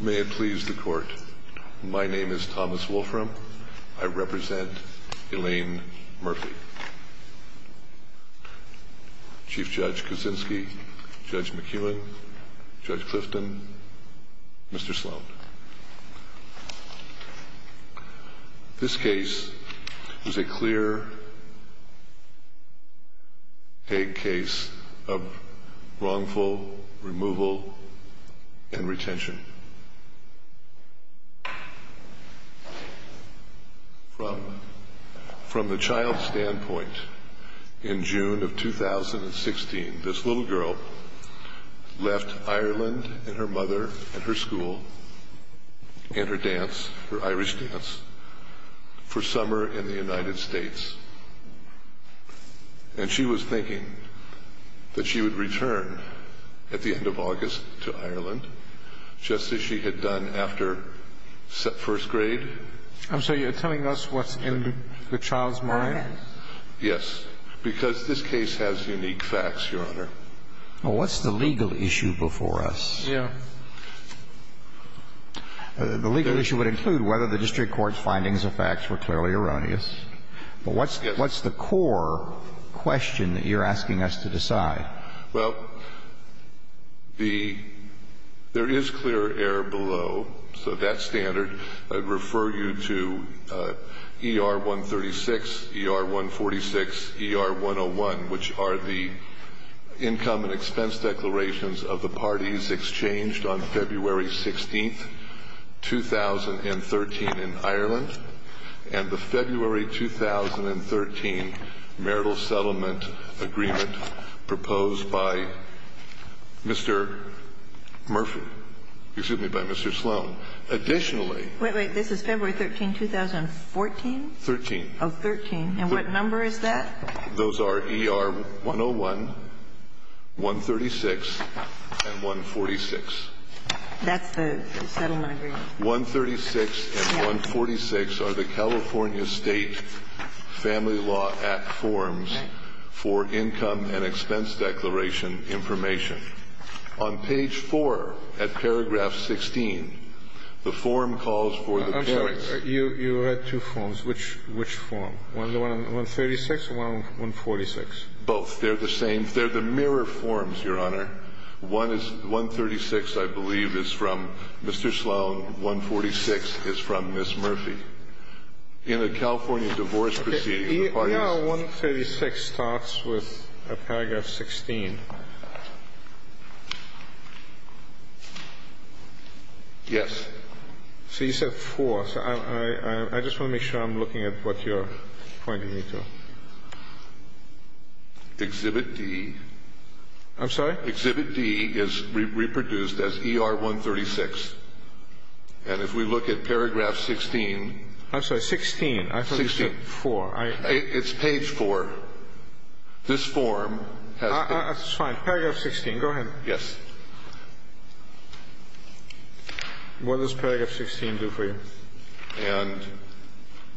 May it please the court. My name is Thomas Wolfram. I represent Elaine Murphy. Chief Judge Kuczynski, Judge McEwen, Judge Clifton, Mr. Sloan. This case is a clear case of wrongful removal and retention. From the child's standpoint, in June of 2016, this little girl left Ireland and her mother and her school and her dance, her Irish dance, for summer in the United States. And she was thinking that she would return at the end of August to Ireland, just as she had done after first grade. I'm sorry, you're telling us what's in the child's mind? Yes. Because this case has unique facts, Your Honor. Well, what's the legal issue before us? Yeah. The legal issue would include whether the district court's findings of facts were clearly erroneous. But what's the core question that you're asking us to decide? Well, there is clear error below. So that standard, I'd refer you to ER-136, ER-146, ER-101, which are the income and expense declarations of the parties exchanged on February 16, 2013 in Ireland. And the February 2013 marital settlement agreement proposed by Mr. Murphy – excuse me, by Mr. Sloan. Additionally – Wait, wait. This is February 13, 2014? 13. Oh, 13. And what number is that? Those are ER-101, 136, and 146. That's the settlement agreement. 136 and 146 are the California State Family Law Act forms for income and expense declaration information. On page 4, at paragraph 16, the form calls for the parents – I'm sorry. You had two forms. Which form? 136 or 146? Both. They're the same. They're the mirror forms, Your Honor. One is – 136, I believe, is from Mr. Sloan. 146 is from Ms. Murphy. In a California divorce proceeding, the parties – ER-136 starts with paragraph 16. Yes. So you said 4. I just want to make sure I'm looking at what you're pointing me to. Exhibit D. I'm sorry? Exhibit D is reproduced as ER-136. And if we look at paragraph 16 – I'm sorry, 16. I thought you said 4. It's page 4. This form has – It's fine. Paragraph 16. Go ahead. Yes. What does paragraph 16 do for you? And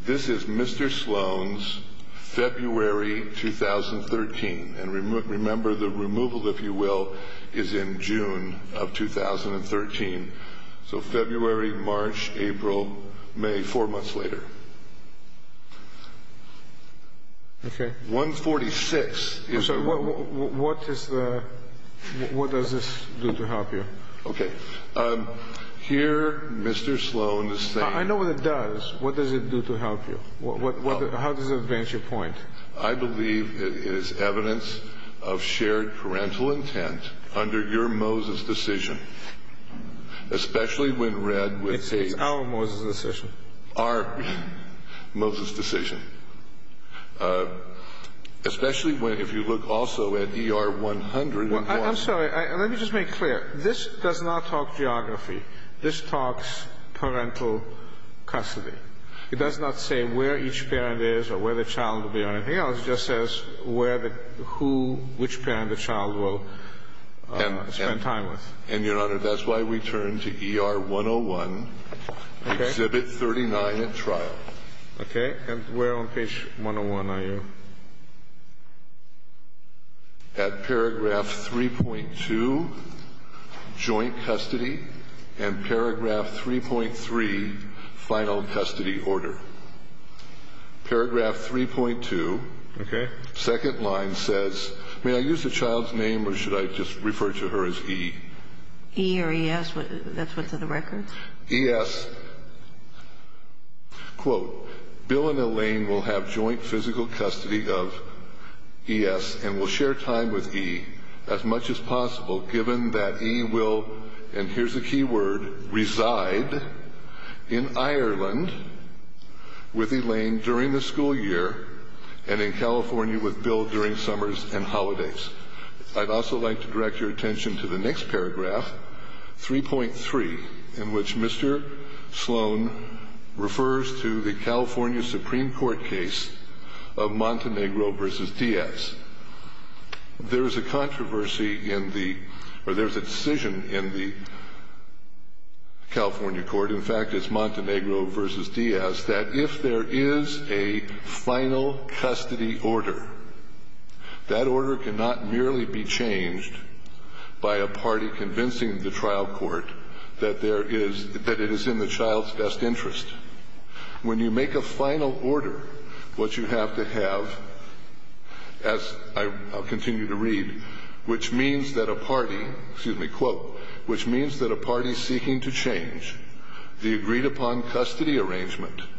this is Mr. Sloan's February 2013. And remember, the removal, if you will, is in June of 2013. So February, March, April, May, four months later. Okay. 146 is – What does this do to help you? Okay. Here, Mr. Sloan is saying – I know what it does. What does it do to help you? How does it advance your point? I believe it is evidence of shared parental intent under your Moses decision, especially when read with hate. It's our Moses decision. Especially if you look also at ER-101. I'm sorry. Let me just make it clear. This does not talk geography. This talks parental custody. It does not say where each parent is or where the child will be or anything else. It just says where the – who – which parent the child will spend time with. And, Your Honor, that's why we turn to ER-101. Okay. Exhibit 39 at trial. Okay. And where on page 101 are you? At paragraph 3.2, joint custody, and paragraph 3.3, final custody order. Paragraph 3.2. Okay. Second line says – may I use the child's name or should I just refer to her as E? E or ES? That's what's in the record? ES, quote, Bill and Elaine will have joint physical custody of ES and will share time with E as much as possible, given that E will – and here's a key word – reside in Ireland with Elaine during the school year and in California with Bill during summers and holidays. I'd also like to direct your attention to the next paragraph, 3.3, in which Mr. Sloan refers to the California Supreme Court case of Montenegro v. Diaz. There is a controversy in the – or there's a decision in the California court – in fact, it's Montenegro v. Diaz – that if there is a final custody order, that order cannot merely be changed by a party convincing the trial court that there is – that it is in the child's best interest. When you make a final order, what you have to have, as I'll continue to read, which means that a party – excuse me – quote, which means that a party seeking to change the agreed-upon custody arrangement –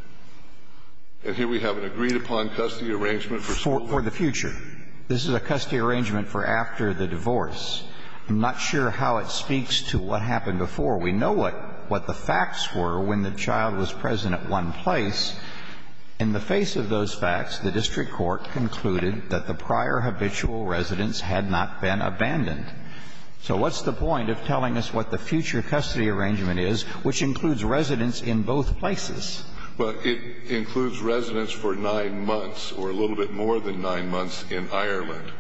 And here we have an agreed-upon custody arrangement for school. For the future. This is a custody arrangement for after the divorce. I'm not sure how it speaks to what happened before. We know what the facts were when the child was present at one place. In the face of those facts, the district court concluded that the prior habitual residence had not been abandoned. So what's the point of telling us what the future custody arrangement is, which includes residence in both places? Well, it includes residence for 9 months or a little bit more than 9 months in Ireland.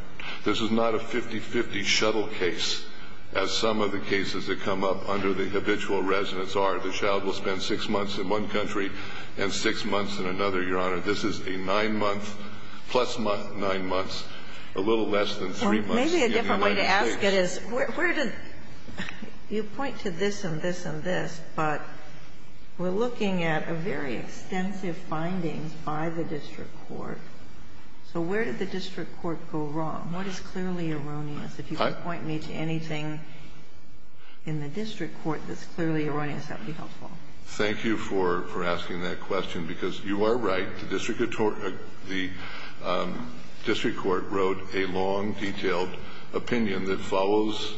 This is not a 50-50 shuttle case, as some of the cases that come up under the habitual residence are. The child will spend 6 months in one country and 6 months in another, Your Honor. This is a 9-month, plus 9 months, a little less than 3 months. Well, maybe a different way to ask it is where does – you point to this and this and this, but we're looking at a very extensive findings by the district court. So where did the district court go wrong? What is clearly erroneous? If you could point me to anything in the district court that's clearly erroneous, that would be helpful. Thank you for asking that question, because you are right. The district court wrote a long, detailed opinion that follows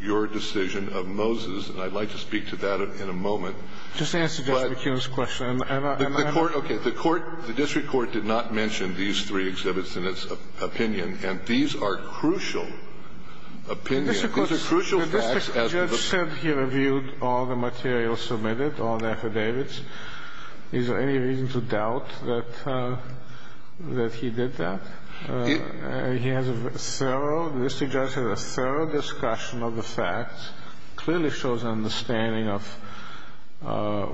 your decision of Moses. And I'd like to speak to that in a moment. Just answer Judge McKeown's question. Okay. The court – the district court did not mention these three exhibits in its opinion. And these are crucial opinions. These are crucial facts. The district judge said he reviewed all the materials submitted, all the affidavits. Is there any reason to doubt that he did that? He has a thorough – the district judge has a thorough discussion of the facts, clearly shows an understanding of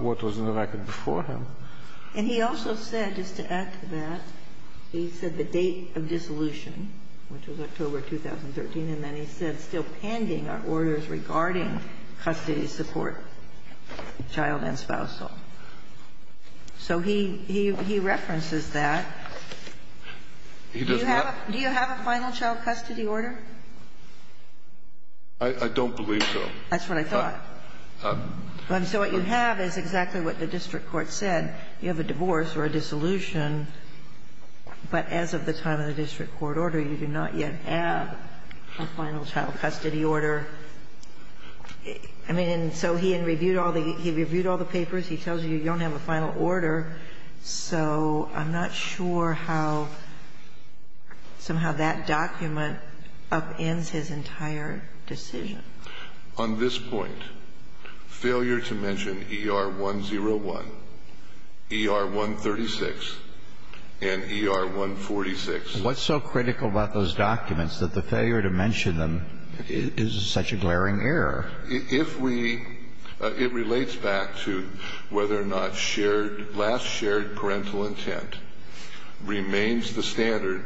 what was in the record before him. And he also said, just to add to that, he said the date of dissolution, which was October 2013, and then he said, still pending are orders regarding custody support, child and spousal. So he – he references that. He does what? Do you have a final child custody order? I don't believe so. That's what I thought. So what you have is exactly what the district court said. You have a divorce or a dissolution, but as of the time of the district court order, you do not yet have a final child custody order. I mean, and so he had reviewed all the – he reviewed all the papers. He tells you you don't have a final order. So I'm not sure how somehow that document upends his entire decision. On this point, failure to mention ER-101, ER-136, and ER-146. What's so critical about those documents that the failure to mention them is such a glaring error? If we – it relates back to whether or not shared – last shared parental intent remains the standard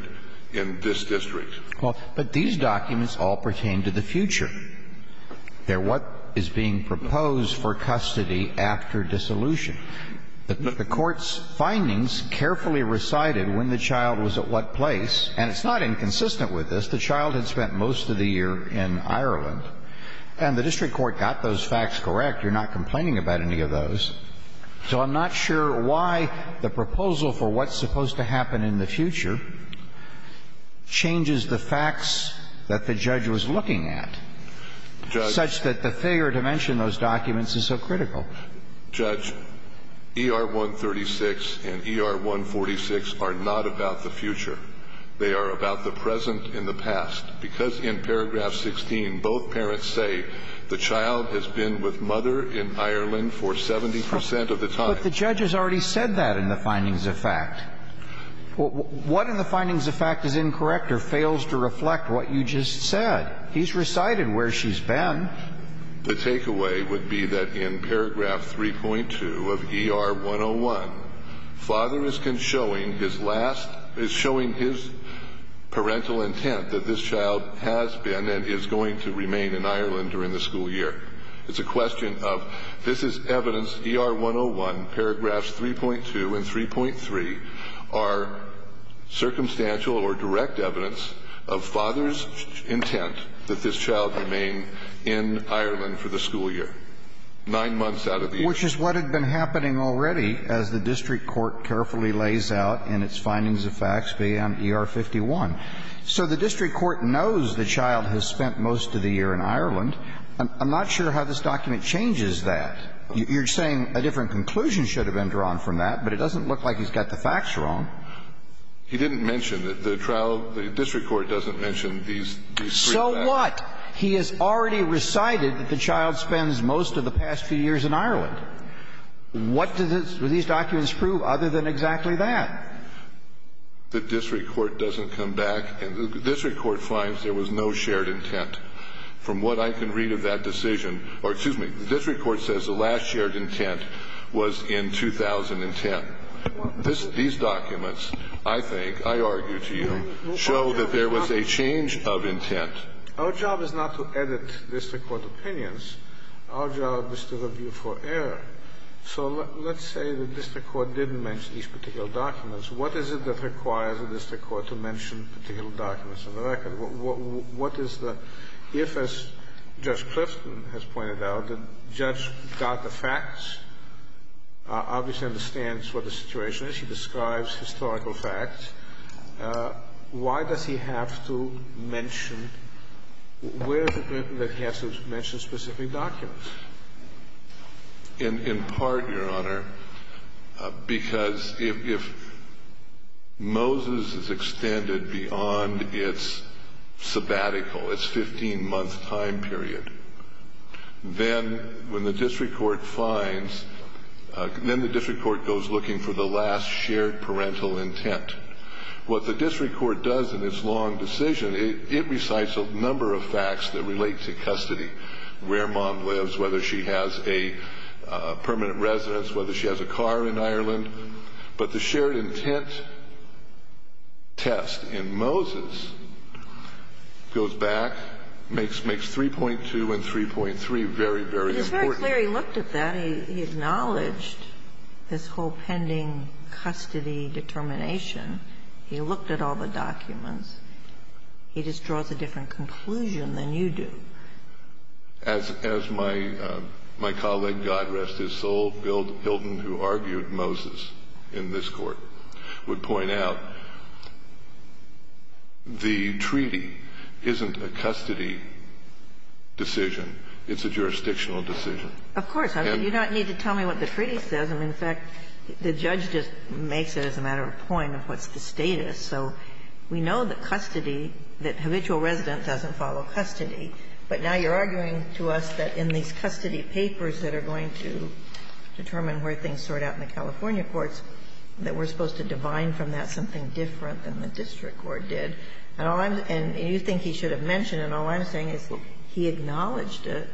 in this district. Well, but these documents all pertain to the future. They're what is being proposed for custody after dissolution. The court's findings carefully recited when the child was at what place, and it's not inconsistent with this. But the child had spent most of the year in Ireland, and the district court got those facts correct. You're not complaining about any of those. So I'm not sure why the proposal for what's supposed to happen in the future changes the facts that the judge was looking at, such that the failure to mention those documents is so critical. Judge, ER-136 and ER-146 are not about the future. They are about the present and the past. Because in paragraph 16, both parents say the child has been with mother in Ireland for 70 percent of the time. But the judge has already said that in the findings of fact. What in the findings of fact is incorrect or fails to reflect what you just said? He's recited where she's been. The takeaway would be that in paragraph 3.2 of ER-101, father is showing his last parental intent that this child has been and is going to remain in Ireland during the school year. It's a question of this is evidence, ER-101, paragraphs 3.2 and 3.3 are circumstantial or direct evidence of father's intent that this child remain in Ireland for the school year, nine months out of the year. Which is what had been happening already as the district court carefully lays out in its findings of facts beyond ER-51. So the district court knows the child has spent most of the year in Ireland. I'm not sure how this document changes that. You're saying a different conclusion should have been drawn from that, but it doesn't look like he's got the facts wrong. He didn't mention that the trial, the district court doesn't mention these three facts. So what? He has already recited that the child spends most of the past few years in Ireland. What do these documents prove other than exactly that? The district court doesn't come back. And the district court finds there was no shared intent. From what I can read of that decision or, excuse me, the district court says the last shared intent was in 2010. These documents, I think, I argue to you, show that there was a change of intent. Our job is not to edit district court opinions. Our job is to review for error. So let's say the district court didn't mention these particular documents. What is it that requires a district court to mention particular documents in the record? What is the – if, as Judge Clifton has pointed out, the judge got the facts, obviously understands what the situation is. He describes historical facts. Why does he have to mention – where is it written that he has to mention specific documents? In part, Your Honor, because if Moses is extended beyond its sabbatical, its 15-month time period, then when the district court finds – then the district court goes looking for the last shared parental intent. What the district court does in its long decision, it recites a number of facts that relate to whether she has a permanent residence, whether she has a car in Ireland. But the shared intent test in Moses goes back, makes 3.2 and 3.3 very, very important. But it's very clear he looked at that. He acknowledged this whole pending custody determination. He looked at all the documents. He just draws a different conclusion than you do. As my colleague, God rest his soul, Bill Hilton, who argued Moses in this Court, would point out, the treaty isn't a custody decision. It's a jurisdictional decision. Of course. You don't need to tell me what the treaty says. I mean, in fact, the judge just makes it as a matter of point of what's the status. So we know that custody, that habitual residence doesn't follow custody. But now you're arguing to us that in these custody papers that are going to determine where things sort out in the California courts, that we're supposed to divine from that something different than the district court did. And all I'm – and you think he should have mentioned, and all I'm saying is he acknowledged it,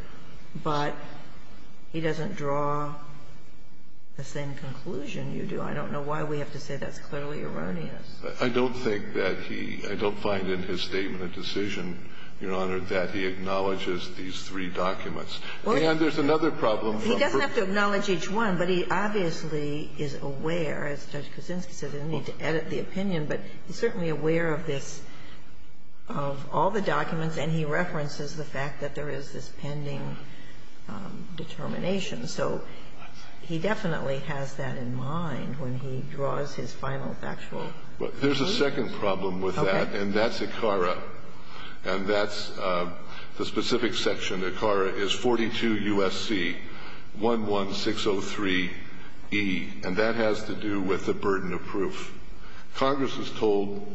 but he doesn't draw the same conclusion you do. I don't know why we have to say that's clearly erroneous. I don't think that he – I don't find in his statement a decision, Your Honor, that he acknowledges these three documents. And there's another problem from the first – He doesn't have to acknowledge each one, but he obviously is aware, as Judge Kuczynski said, I didn't need to edit the opinion, but he's certainly aware of this, of all the documents, and he references the fact that there is this pending determination. So he definitely has that in mind when he draws his final factual conclusion. There's a second problem with that, and that's ACARA. And that's the specific section. ACARA is 42 U.S.C. 11603E, and that has to do with the burden of proof. Congress has told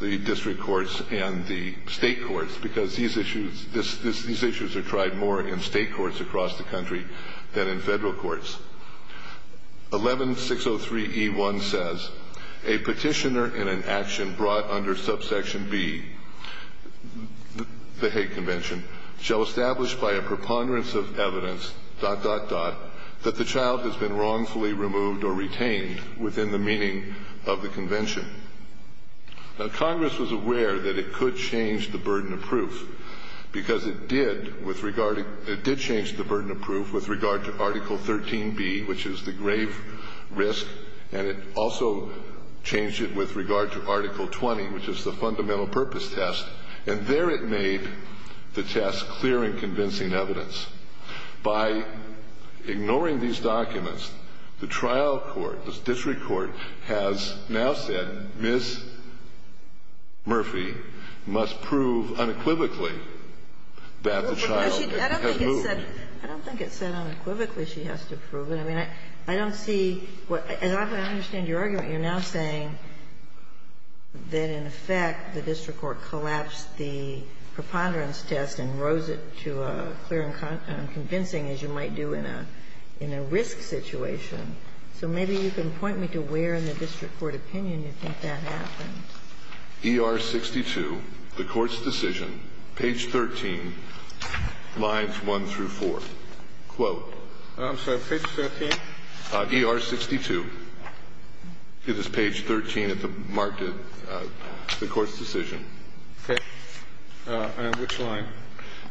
the district courts and the state courts, because these issues are tried more in state courts across the country than in federal courts. 11603E1 says, A petitioner in an action brought under subsection B, the Hague Convention, shall establish by a preponderance of evidence, dot, dot, dot, that the child has been wrongfully removed or retained within the meaning of the convention. Now, Congress was aware that it could change the burden of proof, because it did change the burden of proof with regard to Article 13B, which is the grave risk, and it also changed it with regard to Article 20, which is the fundamental purpose test. And there it made the test clear and convincing evidence. By ignoring these documents, the trial court, the district court, has now said, Ms. Murphy must prove unequivocally that the child has moved. I don't think it said unequivocally she has to prove it. I mean, I don't see what – as I understand your argument, you're now saying that, in effect, the district court collapsed the preponderance test and rose it to clear and convincing, as you might do in a risk situation. So maybe you can point me to where in the district court opinion you think that happened. E.R. 62, the Court's decision, page 13, lines 1 through 4. Quote. I'm sorry. Page 13? E.R. 62. It is page 13 at the mark of the Court's decision. Okay. On which line?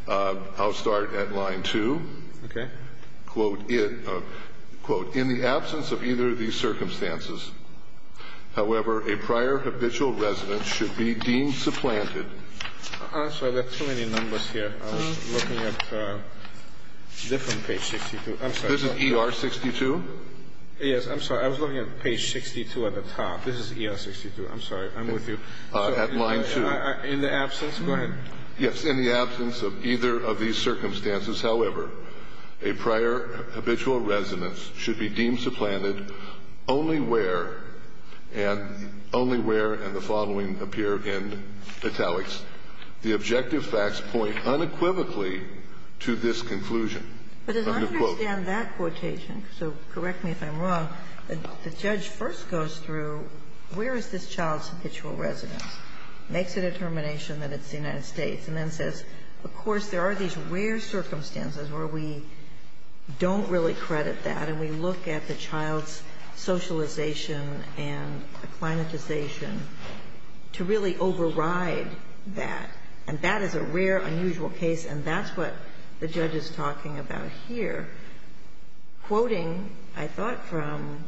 I'll start at line 2. Okay. Quote. In the absence of either of these circumstances, however, a prior habitual resident should be deemed supplanted. I'm sorry. There are too many numbers here. I was looking at different page 62. I'm sorry. This is E.R. 62? Yes. I'm sorry. I was looking at page 62 at the top. This is E.R. 62. I'm sorry. I'm with you. At line 2. In the absence? Go ahead. Yes. In the absence of either of these circumstances, however, a prior habitual resident should be deemed supplanted only where and only where and the following appear in italics. The objective facts point unequivocally to this conclusion. But as I understand that quotation, so correct me if I'm wrong, the judge first goes through where is this child's habitual resident, makes a determination that it's the United States, and then says, of course, there are these rare circumstances where we don't really credit that, and we look at the child's socialization and acclimatization to really override that. And that is a rare, unusual case, and that's what the judge is talking about here. Quoting, I thought, from?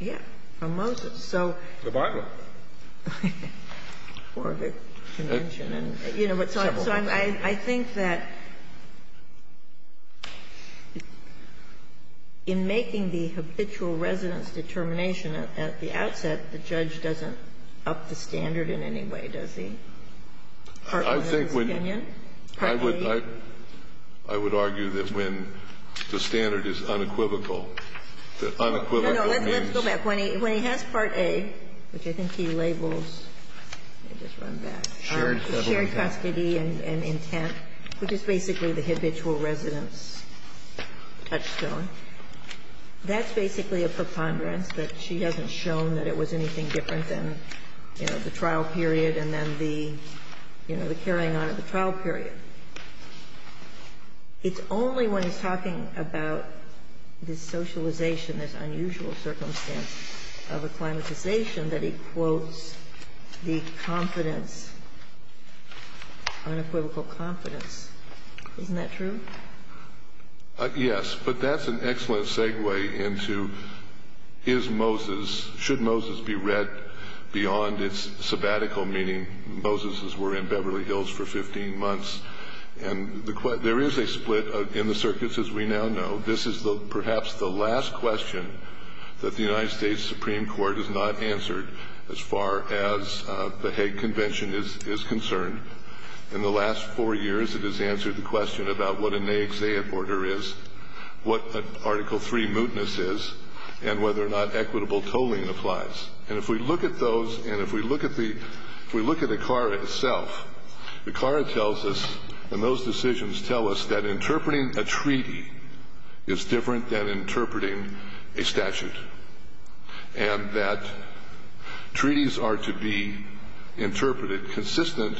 Yes. From Moses. So. The Bible. Or the Convention. You know, but so I think that in making the habitual resident's determination at the outset, the judge doesn't up the standard in any way, does he? Partly in his opinion? Partly? I would argue that when the standard is unequivocal, the unequivocal means. Let's go back. When he has Part A, which I think he labels, let me just run back, shared custody and intent, which is basically the habitual resident's touchstone, that's basically a preponderance that she hasn't shown that it was anything different than, you know, the trial period and then the, you know, the carrying on of the trial period. It's only when he's talking about this socialization, this unusual circumstance of acclimatization that he quotes the confidence, unequivocal confidence. Isn't that true? Yes, but that's an excellent segue into is Moses, should Moses be read beyond its sabbatical, meaning Moses as we're in Beverly Hills for 15 months. And there is a split in the circuits, as we now know. This is perhaps the last question that the United States Supreme Court has not answered as far as the Hague Convention is concerned. In the last four years, it has answered the question about what an exeunt order is, what Article III mootness is, and whether or not equitable tolling applies. And if we look at those, and if we look at the Clara itself, the Clara tells us, and those decisions tell us, that interpreting a treaty is different than interpreting a statute and that treaties are to be interpreted consistent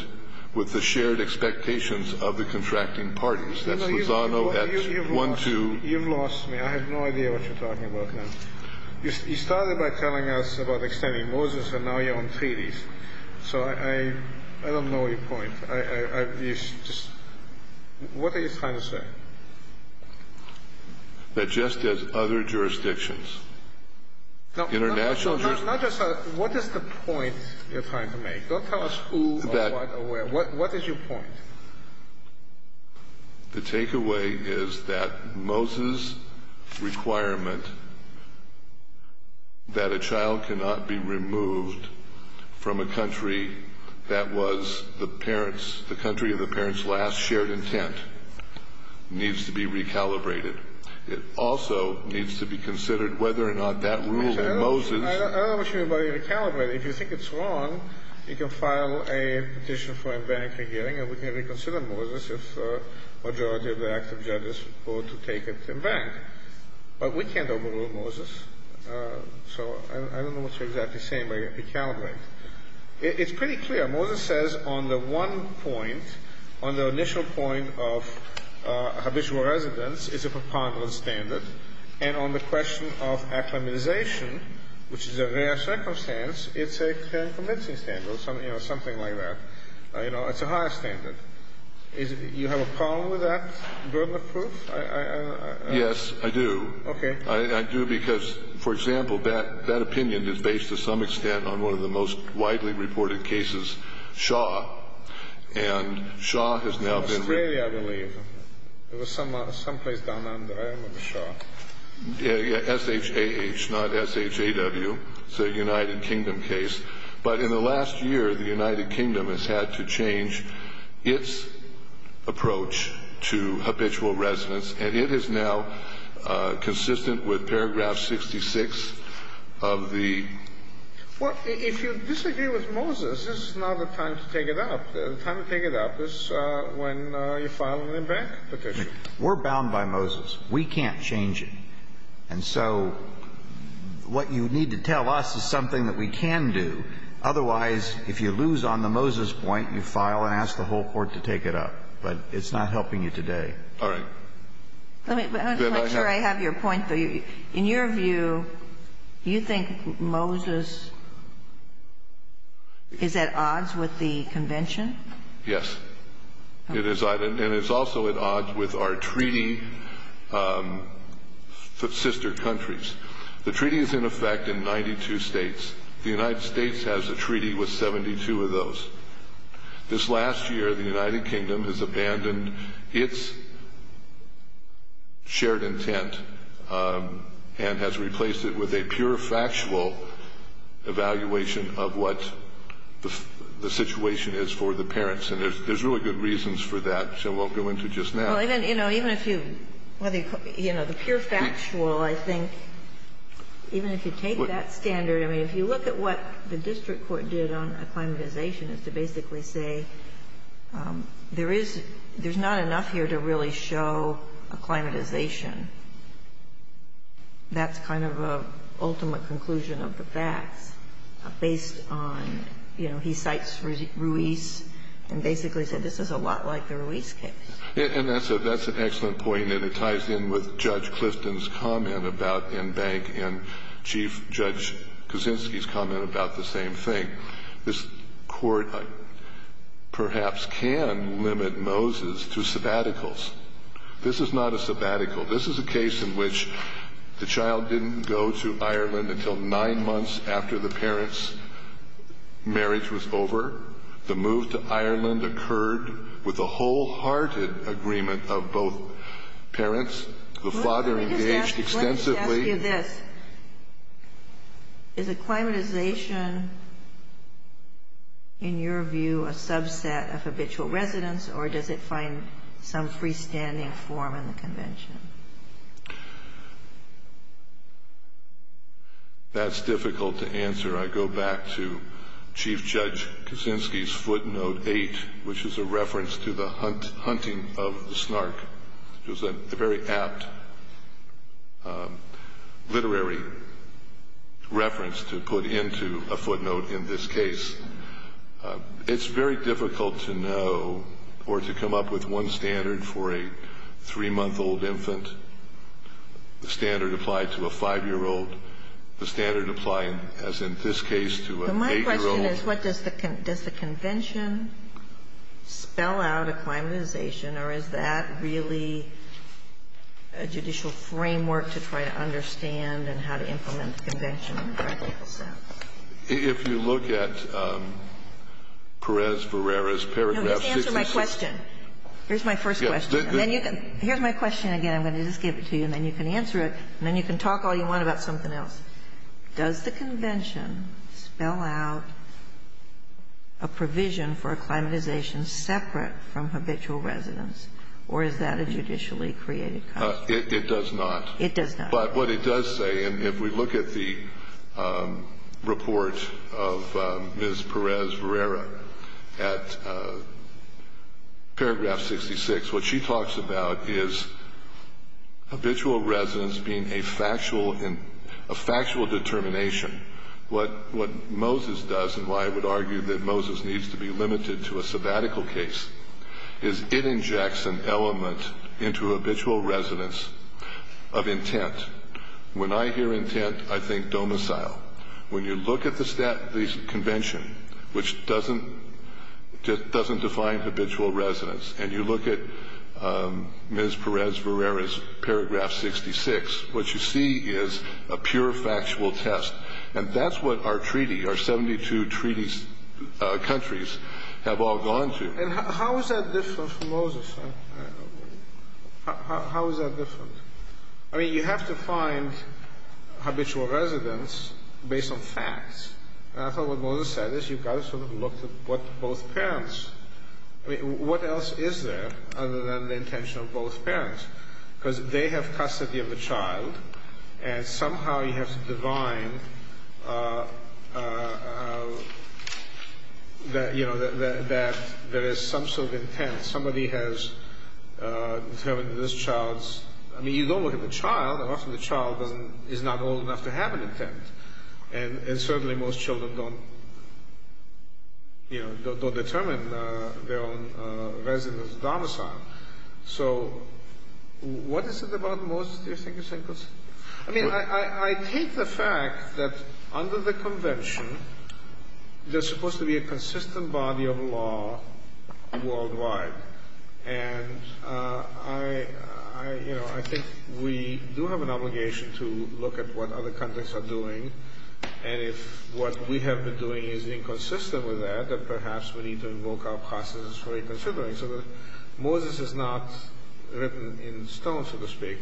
with the shared expectations of the contracting parties. That's Lozano at 1-2. You've lost me. I have no idea what you're talking about now. You started by telling us about extending Moses, and now you're on treaties. So I don't know your point. What are you trying to say? That just as other jurisdictions, international jurisdictions... No, not just that. What is the point you're trying to make? Don't tell us who or what or where. What is your point? The takeaway is that Moses' requirement that a child cannot be removed from a country that was the parents' the country of the parents' last shared intent needs to be recalibrated. It also needs to be considered whether or not that rule in Moses... I don't know what you mean by recalibrated. If you think it's wrong, you can file a petition for a bankruptcy hearing, and we can reconsider Moses if a majority of the active judges vote to take it in bank. But we can't overrule Moses, so I don't know what you're exactly saying by recalibrated. It's pretty clear. Moses says on the one point, on the initial point of habitual residence, it's a preponderance standard, and on the question of acclimatization, which is a rare circumstance, it's a current convincing standard or something like that. You know, it's a higher standard. You have a problem with that verbal proof? Yes, I do. Okay. I do because, for example, that opinion is based to some extent on one of the most widely reported cases, Shaw. And Shaw has now been... In Australia, I believe. It was someplace down under. I don't remember Shaw. S-H-A-H, not S-H-A-W. It's a United Kingdom case. But in the last year, the United Kingdom has had to change its approach to habitual residence, and it is now consistent with paragraph 66 of the... Well, if you disagree with Moses, this is not the time to take it up. The time to take it up is when you file an in-bank petition. We're bound by Moses. We can't change it. And so what you need to tell us is something that we can do. Otherwise, if you lose on the Moses point, you file and ask the whole Court to take it up. But it's not helping you today. All right. Let me make sure I have your point. In your view, you think Moses is at odds with the convention? Yes. And it's also at odds with our treaty sister countries. The treaty is in effect in 92 states. The United States has a treaty with 72 of those. This last year, the United Kingdom has abandoned its shared intent and has replaced it with a pure factual evaluation of what the situation is for the parents. And there's really good reasons for that, which I won't go into just now. Well, even if you, you know, the pure factual, I think, even if you take that standard I mean, if you look at what the district court did on acclimatization, it's to basically say there is, there's not enough here to really show acclimatization. That's kind of an ultimate conclusion of the facts based on, you know, he cites Ruiz and basically said this is a lot like the Ruiz case. And that's an excellent point, and it ties in with Judge Clifton's comment about Enbank and Chief Judge Kuczynski's comment about the same thing. This court perhaps can limit Moses to sabbaticals. This is not a sabbatical. This is a case in which the child didn't go to Ireland until nine months after the parents' marriage was over. The move to Ireland occurred with a wholehearted agreement of both parents. The father engaged extensively. Let me just ask you this. Is acclimatization, in your view, a subset of habitual residence, or does it find some freestanding form in the convention? That's difficult to answer. I go back to Chief Judge Kuczynski's footnote 8, which is a reference to the hunting of the snark. It was a very apt literary reference to put into a footnote in this case. It's very difficult to know or to come up with one standard for a three-month-old infant. The standard applied to a five-year-old. The standard applied, as in this case, to an eight-year-old. But my question is, does the convention spell out acclimatization, or is that really a judicial framework to try to understand and how to implement the convention in practice? If you look at Perez-Verrera's paragraph 66. No, just answer my question. Here's my first question. Here's my question again. I'm going to just give it to you, and then you can answer it, and then you can talk all you want about something else. Does the convention spell out a provision for acclimatization separate from habitual residence, or is that a judicially created concept? It does not. It does not. But what it does say, and if we look at the report of Ms. Perez-Verrera at paragraph 66, what she talks about is habitual residence being a factual determination. What Moses does, and why I would argue that Moses needs to be limited to a sabbatical case, is it injects an element into habitual residence of intent. When I hear intent, I think domicile. When you look at the convention, which doesn't define habitual residence, and you look at Ms. Perez-Verrera's paragraph 66, what you see is a pure factual test. And that's what our treaty, our 72 treaty countries, have all gone to. And how is that different from Moses? How is that different? I mean, you have to find habitual residence based on facts. And I thought what Moses said is you've got to sort of look at both parents. I mean, what else is there other than the intention of both parents? Because they have custody of the child, and somehow you have to divine that there is some sort of intent. Somebody has determined that this child's, I mean, you don't look at the child. Often the child is not old enough to have an intent. And certainly most children don't determine their own residence domicile. So what is it about Moses do you think is inconsistent? I mean, I take the fact that under the convention, there's supposed to be a consistent body of law worldwide. And I think we do have an obligation to look at what other countries are doing. And if what we have been doing is inconsistent with that, then perhaps we need to invoke our processes for reconsidering. Moses is not written in stone, so to speak.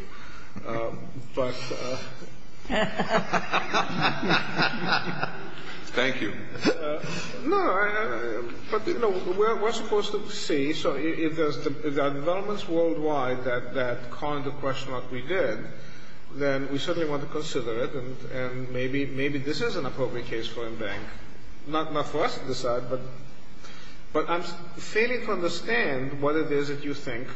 Thank you. No, but, you know, we're supposed to see. So if there are developments worldwide that call into question what we did, then we certainly want to consider it. And maybe this is an appropriate case for a bank, not for us to decide. But I'm failing to understand what it is that you think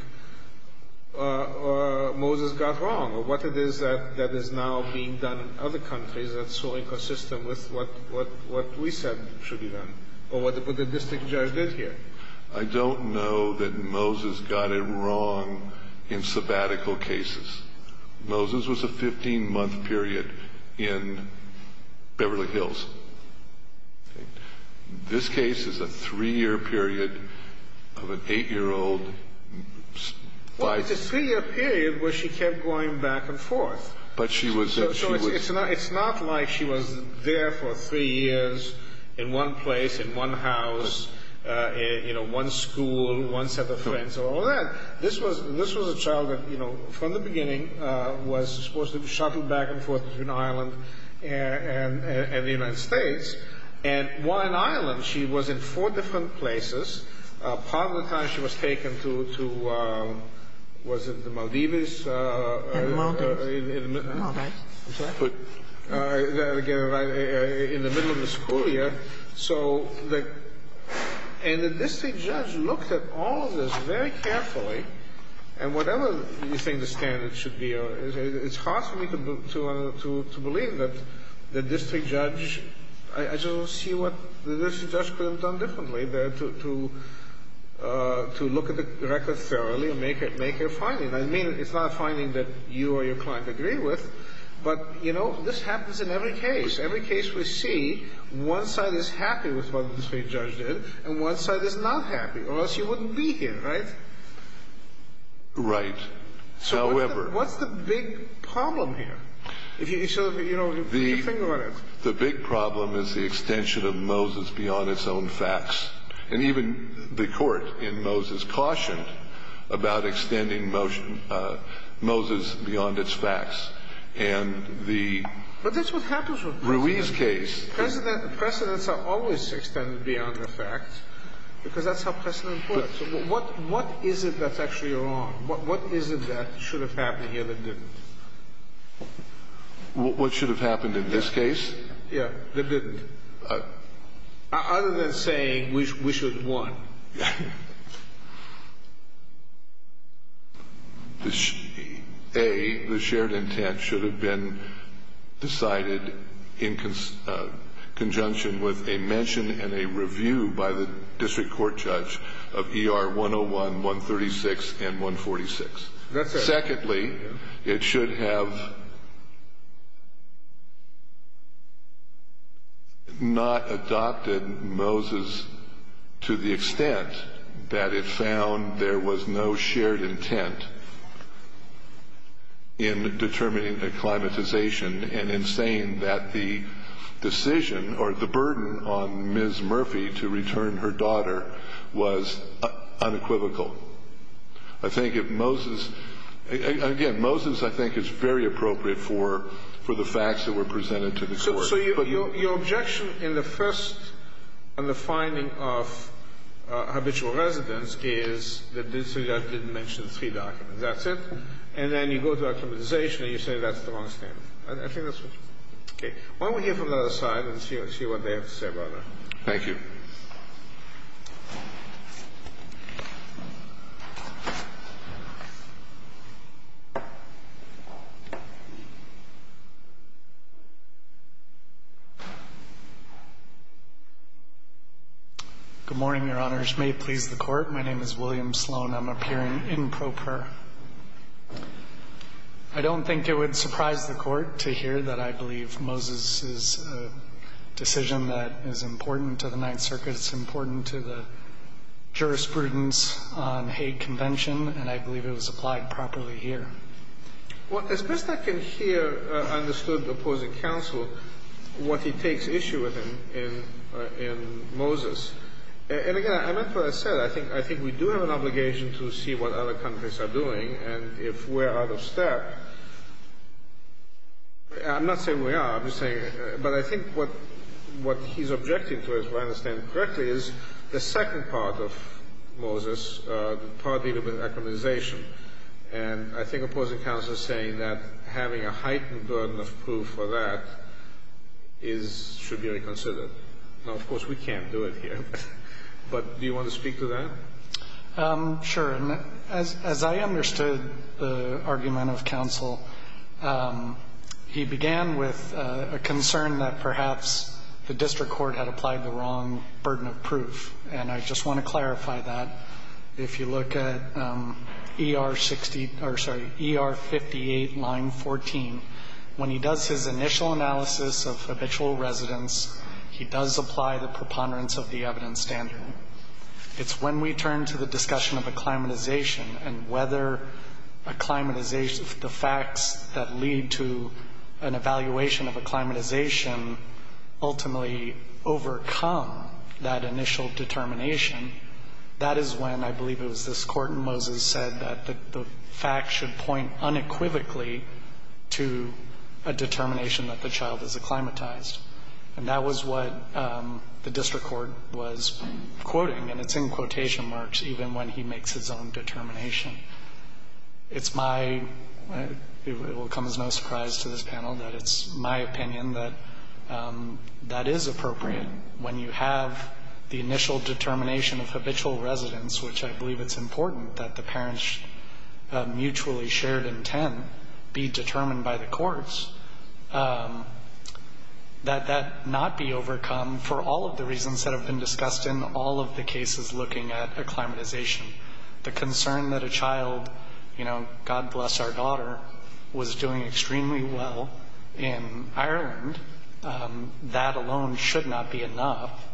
Moses got wrong, or what it is that is now being done in other countries that's so inconsistent with what we said should be done, or what the district judge did here. I don't know that Moses got it wrong in sabbatical cases. Moses was a 15-month period in Beverly Hills. This case is a three-year period of an eight-year-old. Well, it's a three-year period where she kept going back and forth. So it's not like she was there for three years in one place, in one house, you know, one school, one set of friends, or all that. This was a child that, you know, from the beginning was supposed to be shuttled back and forth between Ireland and the United States. And while in Ireland, she was in four different places. Part of the time she was taken to, was it the Maldives? In the mountains. In the middle of the school year. And the district judge looked at all of this very carefully. And whatever you think the standards should be, it's hard for me to believe that the district judge, I just don't see what the district judge could have done differently to look at the record thoroughly and make a finding. I mean, it's not a finding that you or your client agree with. But, you know, this happens in every case. Every case we see, one side is happy with what the district judge did, and one side is not happy. Or else you wouldn't be here, right? Right. However. So what's the big problem here? If you sort of, you know, if you think about it. The big problem is the extension of Moses beyond its own facts. And even the court in Moses cautioned about extending Moses beyond its facts. But that's what happens with President. Rui's case. Presidents are always extended beyond the facts, because that's how presidents work. What is it that's actually wrong? What is it that should have happened here that didn't? What should have happened in this case? Other than saying we should have won. A, the shared intent should have been decided in conjunction with a mention and a review by the district court judge of ER 101, 136, and 146. Secondly, it should have not adopted Moses to the extent that it found there was no shared intent in determining the acclimatization. And in saying that the decision or the burden on Ms. Murphy to return her daughter was unequivocal. I think if Moses, again, Moses I think is very appropriate for the facts that were presented to the court. So your objection in the first, on the finding of habitual residence, is that the district judge didn't mention three documents. That's it? And then you go to acclimatization and you say that's the wrong statement. I think that's what's wrong. Okay. Why don't we hear from the other side and see what they have to say about that. Thank you. Good morning, Your Honors. May it please the court. My name is William Sloan. I'm appearing in pro per. I don't think it would surprise the court to hear that I believe Moses is a decision that is important to the Ninth Circuit. It's important to the jurisprudence on hate convention. And I believe it was applied properly here. Well, as best I can hear understood opposing counsel what he takes issue with in Moses. And, again, I meant what I said. I think we do have an obligation to see what other countries are doing. And if we're out of step, I'm not saying we are. I'm just saying. But I think what he's objecting to, as I understand it correctly, is the second part of Moses, the part dealing with acclimatization. And I think opposing counsel is saying that having a heightened burden of proof for that should be reconsidered. Now, of course, we can't do it here. But do you want to speak to that? Sure. As I understood the argument of counsel, he began with a concern that perhaps the district court had applied the wrong burden of proof. And I just want to clarify that. If you look at ER-60 or, sorry, ER-58, line 14, when he does his initial analysis of habitual residence, he does apply the preponderance of the evidence standard. It's when we turn to the discussion of acclimatization and whether acclimatization of the facts that lead to an evaluation of acclimatization ultimately overcome that initial determination, that is when I believe it was this Court in Moses said that the fact should point unequivocally to a determination that the child is acclimatized. And that was what the district court was quoting. And it's in quotation marks even when he makes his own determination. It's my – it will come as no surprise to this panel that it's my opinion that that is appropriate. When you have the initial determination of habitual residence, which I believe it's important that the parents' mutually shared intent be determined by the courts, that that not be overcome for all of the reasons that have been discussed in all of the cases looking at acclimatization. The concern that a child, you know, God bless our daughter, was doing extremely well in Ireland, that alone should not be enough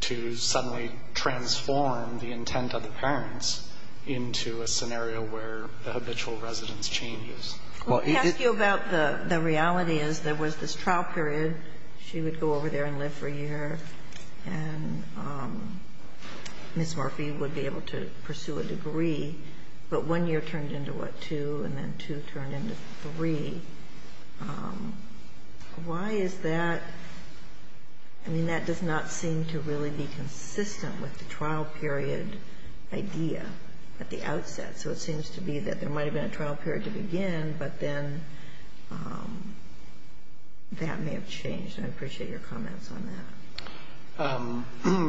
to suddenly transform the intent of the parents into a scenario where the habitual residence changes. Well, it is – Let me ask you about the reality is there was this trial period. She would go over there and live for a year. And Ms. Murphy would be able to pursue a degree. But one year turned into what, two? And then two turned into three. Why is that? I mean, that does not seem to really be consistent with the trial period idea at the outset. So it seems to be that there might have been a trial period to begin, but then that may have changed. And I appreciate your comments on that.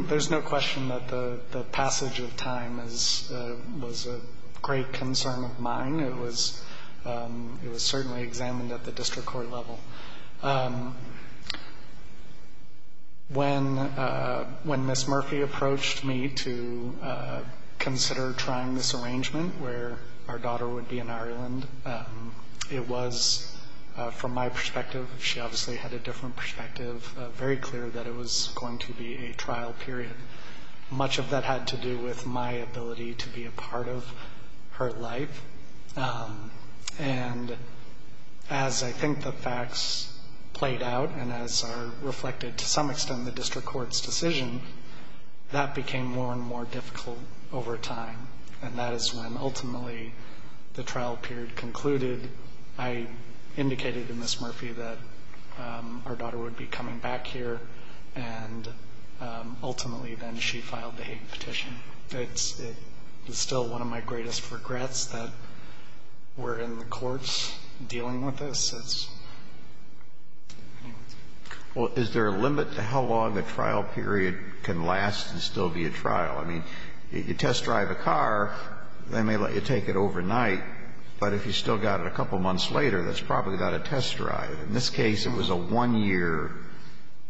There's no question that the passage of time was a great concern of mine. It was certainly examined at the district court level. When Ms. Murphy approached me to consider trying this arrangement where our daughter would be in Ireland, it was, from my perspective, she obviously had a different perspective, very clear that it was going to be a trial period. Much of that had to do with my ability to be a part of her life. And as I think the facts played out and as are reflected to some extent in the district court's decision, that became more and more difficult over time. And that is when ultimately the trial period concluded. I indicated to Ms. Murphy that our daughter would be coming back here, and ultimately then she filed the hate petition. It's still one of my greatest regrets that we're in the courts dealing with this. Well, is there a limit to how long a trial period can last and still be a trial? I mean, you test drive a car, they may let you take it overnight, but if you still got it a couple months later, that's probably not a test drive. In this case, it was a one-year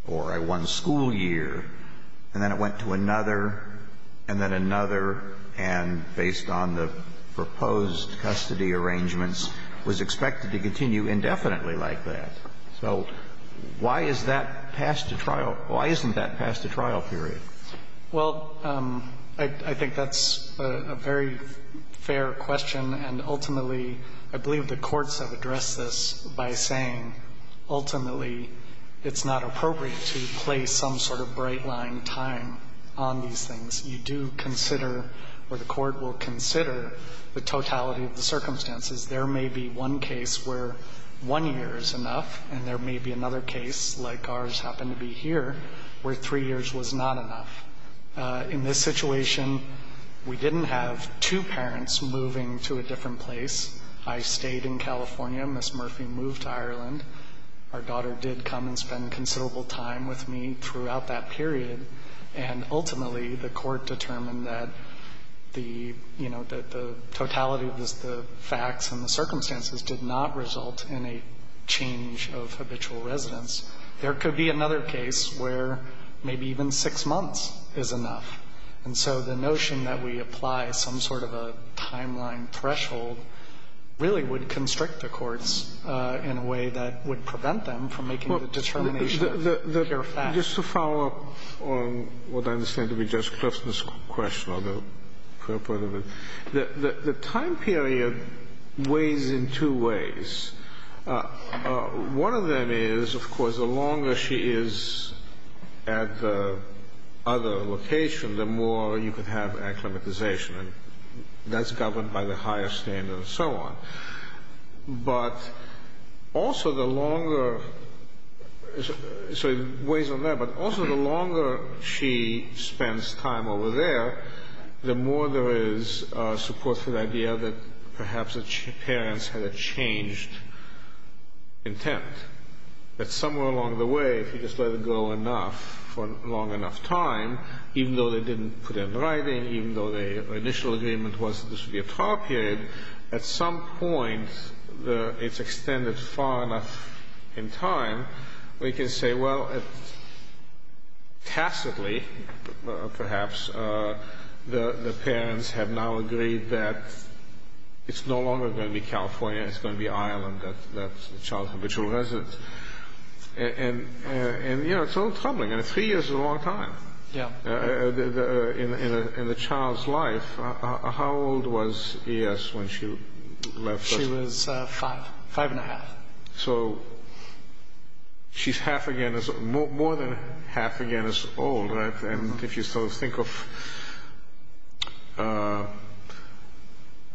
or a one-school year, and then it went to another and then another, and based on the proposed custody arrangements, was expected to continue indefinitely like that. So why is that past a trial? Why isn't that past a trial period? Well, I think that's a very fair question, and ultimately I believe the courts have addressed this by saying ultimately it's not appropriate to place some sort of bright-line time on these things. You do consider, or the court will consider, the totality of the circumstances. There may be one case where one year is enough, and there may be another case, like ours happened to be here, where three years was not enough. In this situation, we didn't have two parents moving to a different place. I stayed in California. Ms. Murphy moved to Ireland. Our daughter did come and spend considerable time with me throughout that period. And ultimately the court determined that the, you know, that the totality of the facts and the circumstances did not result in a change of habitual residence. There could be another case where maybe even six months is enough. And so the notion that we apply some sort of a timeline threshold really would constrict the courts in a way that would prevent them from making the determination of the facts. Just to follow up on what I understand to be Judge Clifton's question, or the purport of it, the time period weighs in two ways. One of them is, of course, the longer she is at the other location, the more you could have acclimatization. And that's governed by the higher standard and so on. But also the longer, sorry, weighs on that, but also the longer she spends time over there, the more there is support for the idea that perhaps the parents had a changed intent. That somewhere along the way, if you just let it go enough for a long enough time, even though they didn't put in writing, even though their initial agreement was that this would be a trial period, at some point it's extended far enough in time, we can say, well, tacitly, perhaps, the parents have now agreed that it's no longer going to be California, it's going to be Ireland, that child's habitual residence. And, you know, it's a little troubling. And three years is a long time in the child's life. How old was E.S. when she left us? She was five, five and a half. So she's half again, more than half again as old, right? And if you sort of think of,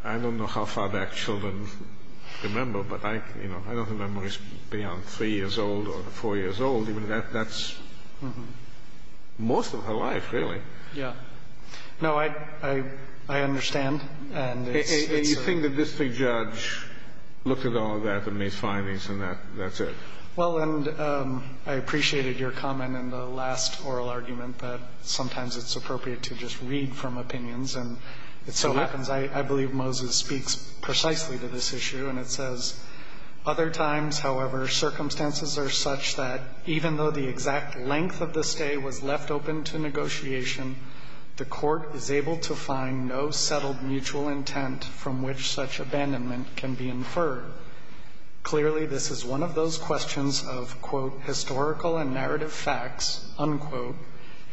I don't know how far back children remember, but I don't have memories beyond three years old or four years old. That's most of her life, really. Yeah. No, I understand. And it's a... And you think that this big judge looked at all of that and made findings and that's it? Well, and I appreciated your comment in the last oral argument that sometimes it's appropriate to just read from opinions. And it so happens I believe Moses speaks precisely to this issue. And it says, Other times, however, circumstances are such that even though the exact length of the stay was left open to negotiation, the court is able to find no settled mutual intent from which such abandonment can be inferred. Clearly, this is one of those questions of, quote, historical and narrative facts, unquote,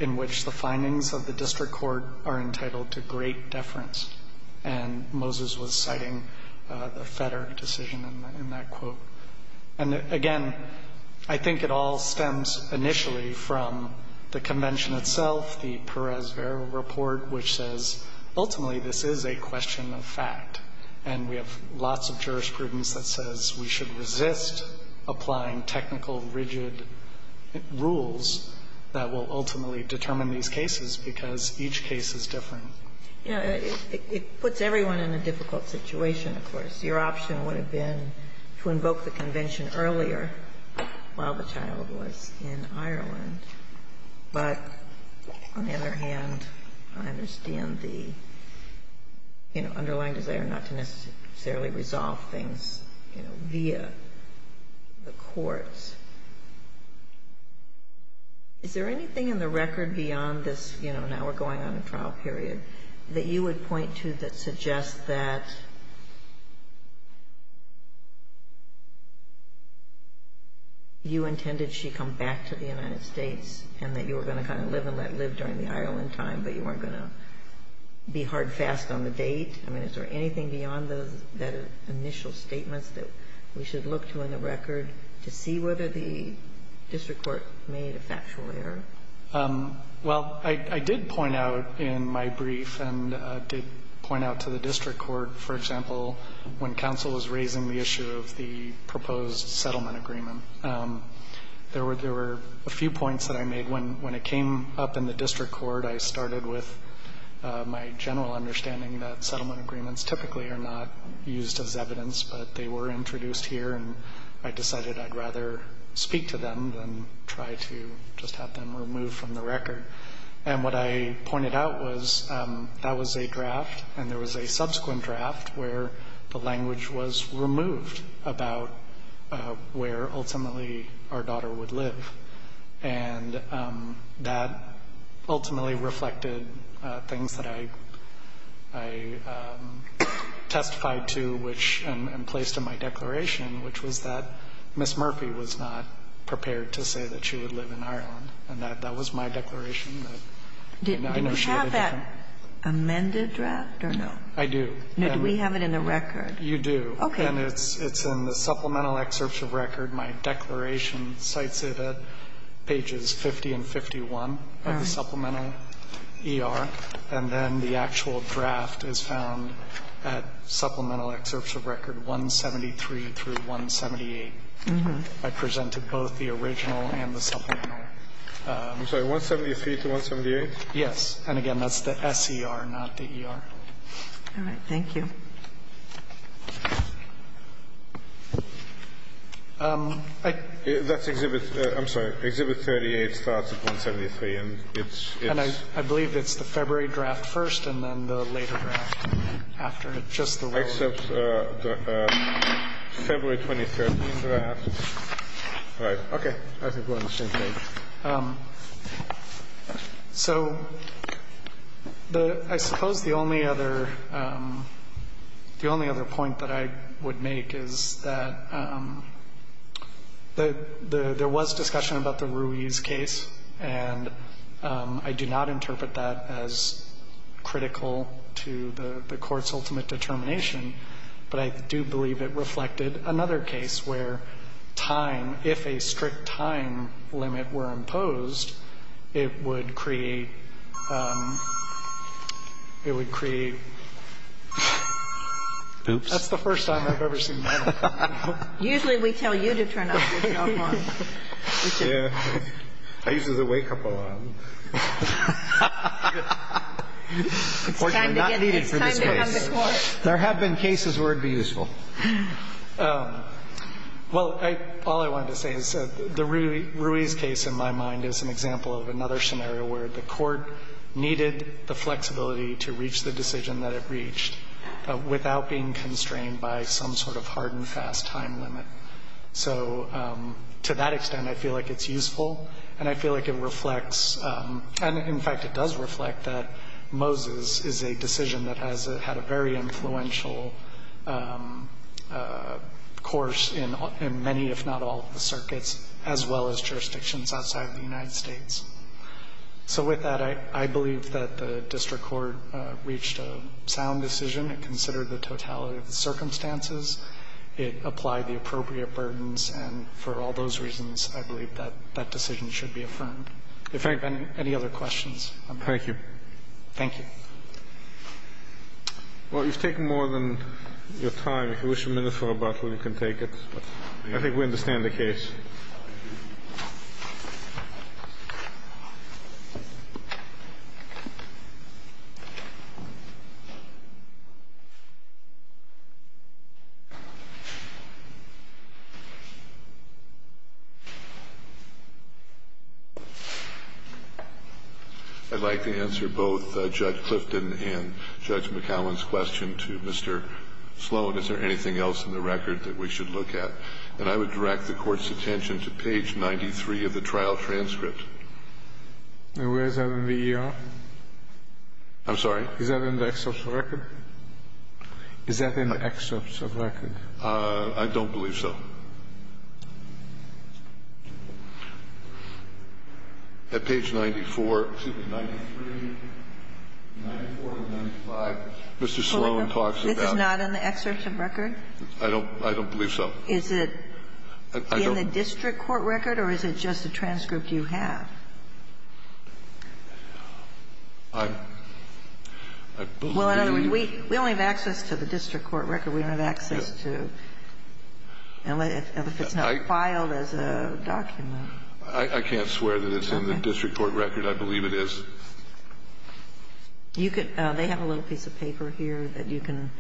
in which the findings of the district court are entitled to great deference. And Moses was citing the Fetter decision in that quote. And, again, I think it all stems initially from the convention itself, the Perez-Vera report, which says ultimately this is a question of fact. And we have lots of jurisprudence that says we should resist applying technical, rigid rules that will ultimately determine these cases because each case is different. Yeah. It puts everyone in a difficult situation, of course. Your option would have been to invoke the convention earlier while the child was in Ireland. But, on the other hand, I understand the, you know, underlying desire not to necessarily resolve things, you know, via the courts. Is there anything in the record beyond this, you know, now we're going on a trial period, that you would point to that suggests that you intended she come back to the United States and that you were going to kind of live and let live during the Ireland time, but you weren't going to be hard fast on the date? I mean, is there anything beyond those initial statements that we should look to in the record to see whether the district court made a factual error? Well, I did point out in my brief and did point out to the district court, for example, when counsel was raising the issue of the proposed settlement agreement, there were a few points that I made. When it came up in the district court, I started with my general understanding that settlement agreements typically are not used as evidence, but they were introduced here, and I decided I'd rather speak to them than try to just have them removed from the record. And what I pointed out was that was a draft, and there was a subsequent draft where the language was removed about where ultimately our daughter would live. And that ultimately reflected things that I testified to, which, and placed in my declaration, which was that Ms. Murphy was not prepared to say that she would live in Ireland. And that was my declaration. I know she had a different. Do we have that amended draft or no? I do. Do we have it in the record? You do. Okay. And it's in the supplemental excerpts of record. My declaration cites it at pages 50 and 51 of the supplemental ER. And then the actual draft is found at supplemental excerpts of record 173 through 178. I presented both the original and the supplemental. I'm sorry. 173 to 178? Yes. And, again, that's the SER, not the ER. All right. Thank you. That's Exhibit 38 starts at 173. And I believe it's the February draft first and then the later draft after it, just the word. Except the February 2013 draft. All right. Okay. I think we're on the same page. So I suppose the only other point that I would make is that there was discussion about the Ruiz case, and I do not interpret that as critical to the Court's ultimate determination. But I do believe it reflected another case where time, if a strict time limit were imposed, it would create, it would create. Oops. That's the first time I've ever seen that. Usually we tell you to turn up with your alarm. Yeah. I use it as a wake-up alarm. Unfortunately, not needed for this case. There have been cases where it would be useful. Well, all I wanted to say is the Ruiz case, in my mind, is an example of another scenario where the Court needed the flexibility to reach the decision that it reached without being constrained by some sort of hard and fast time limit. So to that extent, I feel like it's useful, and I feel like it reflects. And, in fact, it does reflect that Moses is a decision that has had a very influential course in many, if not all, of the circuits, as well as jurisdictions outside of the United States. So with that, I believe that the district court reached a sound decision. It considered the totality of the circumstances. It applied the appropriate burdens. And for all those reasons, I believe that that decision should be affirmed. If there have been any other questions. Thank you. Thank you. Well, you've taken more than your time. If you wish a minute for rebuttal, you can take it. I think we understand the case. Thank you. I'd like to answer both Judge Clifton and Judge McAllen's question to Mr. Sloan. Is there anything else in the record that we should look at? And I would direct the Court's attention to page 93 of the trial transcript. And where is that in the ER? I'm sorry? Is that in the excerpt of record? Is that in the excerpt of record? I don't believe so. At page 94, excuse me, 93, 94 to 95, Mr. Sloan talks about. This is not in the excerpt of record? I don't believe so. Is it in the district court record, or is it just a transcript you have? I believe it is. We only have access to the district court record. We don't have access to, if it's not filed as a document. I can't swear that it's in the district court record. I believe it is. They have a little piece of paper here that you can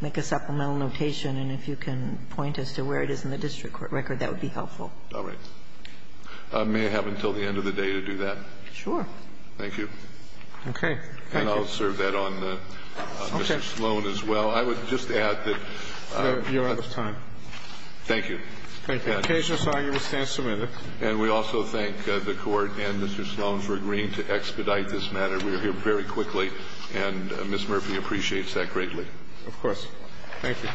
make a supplemental notation, and if you can point as to where it is in the district court record, that would be helpful. All right. May I have until the end of the day to do that? Sure. Thank you. Okay. Thank you. And I'll serve that on Mr. Sloan as well. Okay. I would just add that you're out of time. Thank you. Thank you. Occasional arguments stand submitted. And we also thank the Court and Mr. Sloan for agreeing to expedite this matter. We are here very quickly, and Ms. Murphy appreciates that greatly. Of course. Thank you.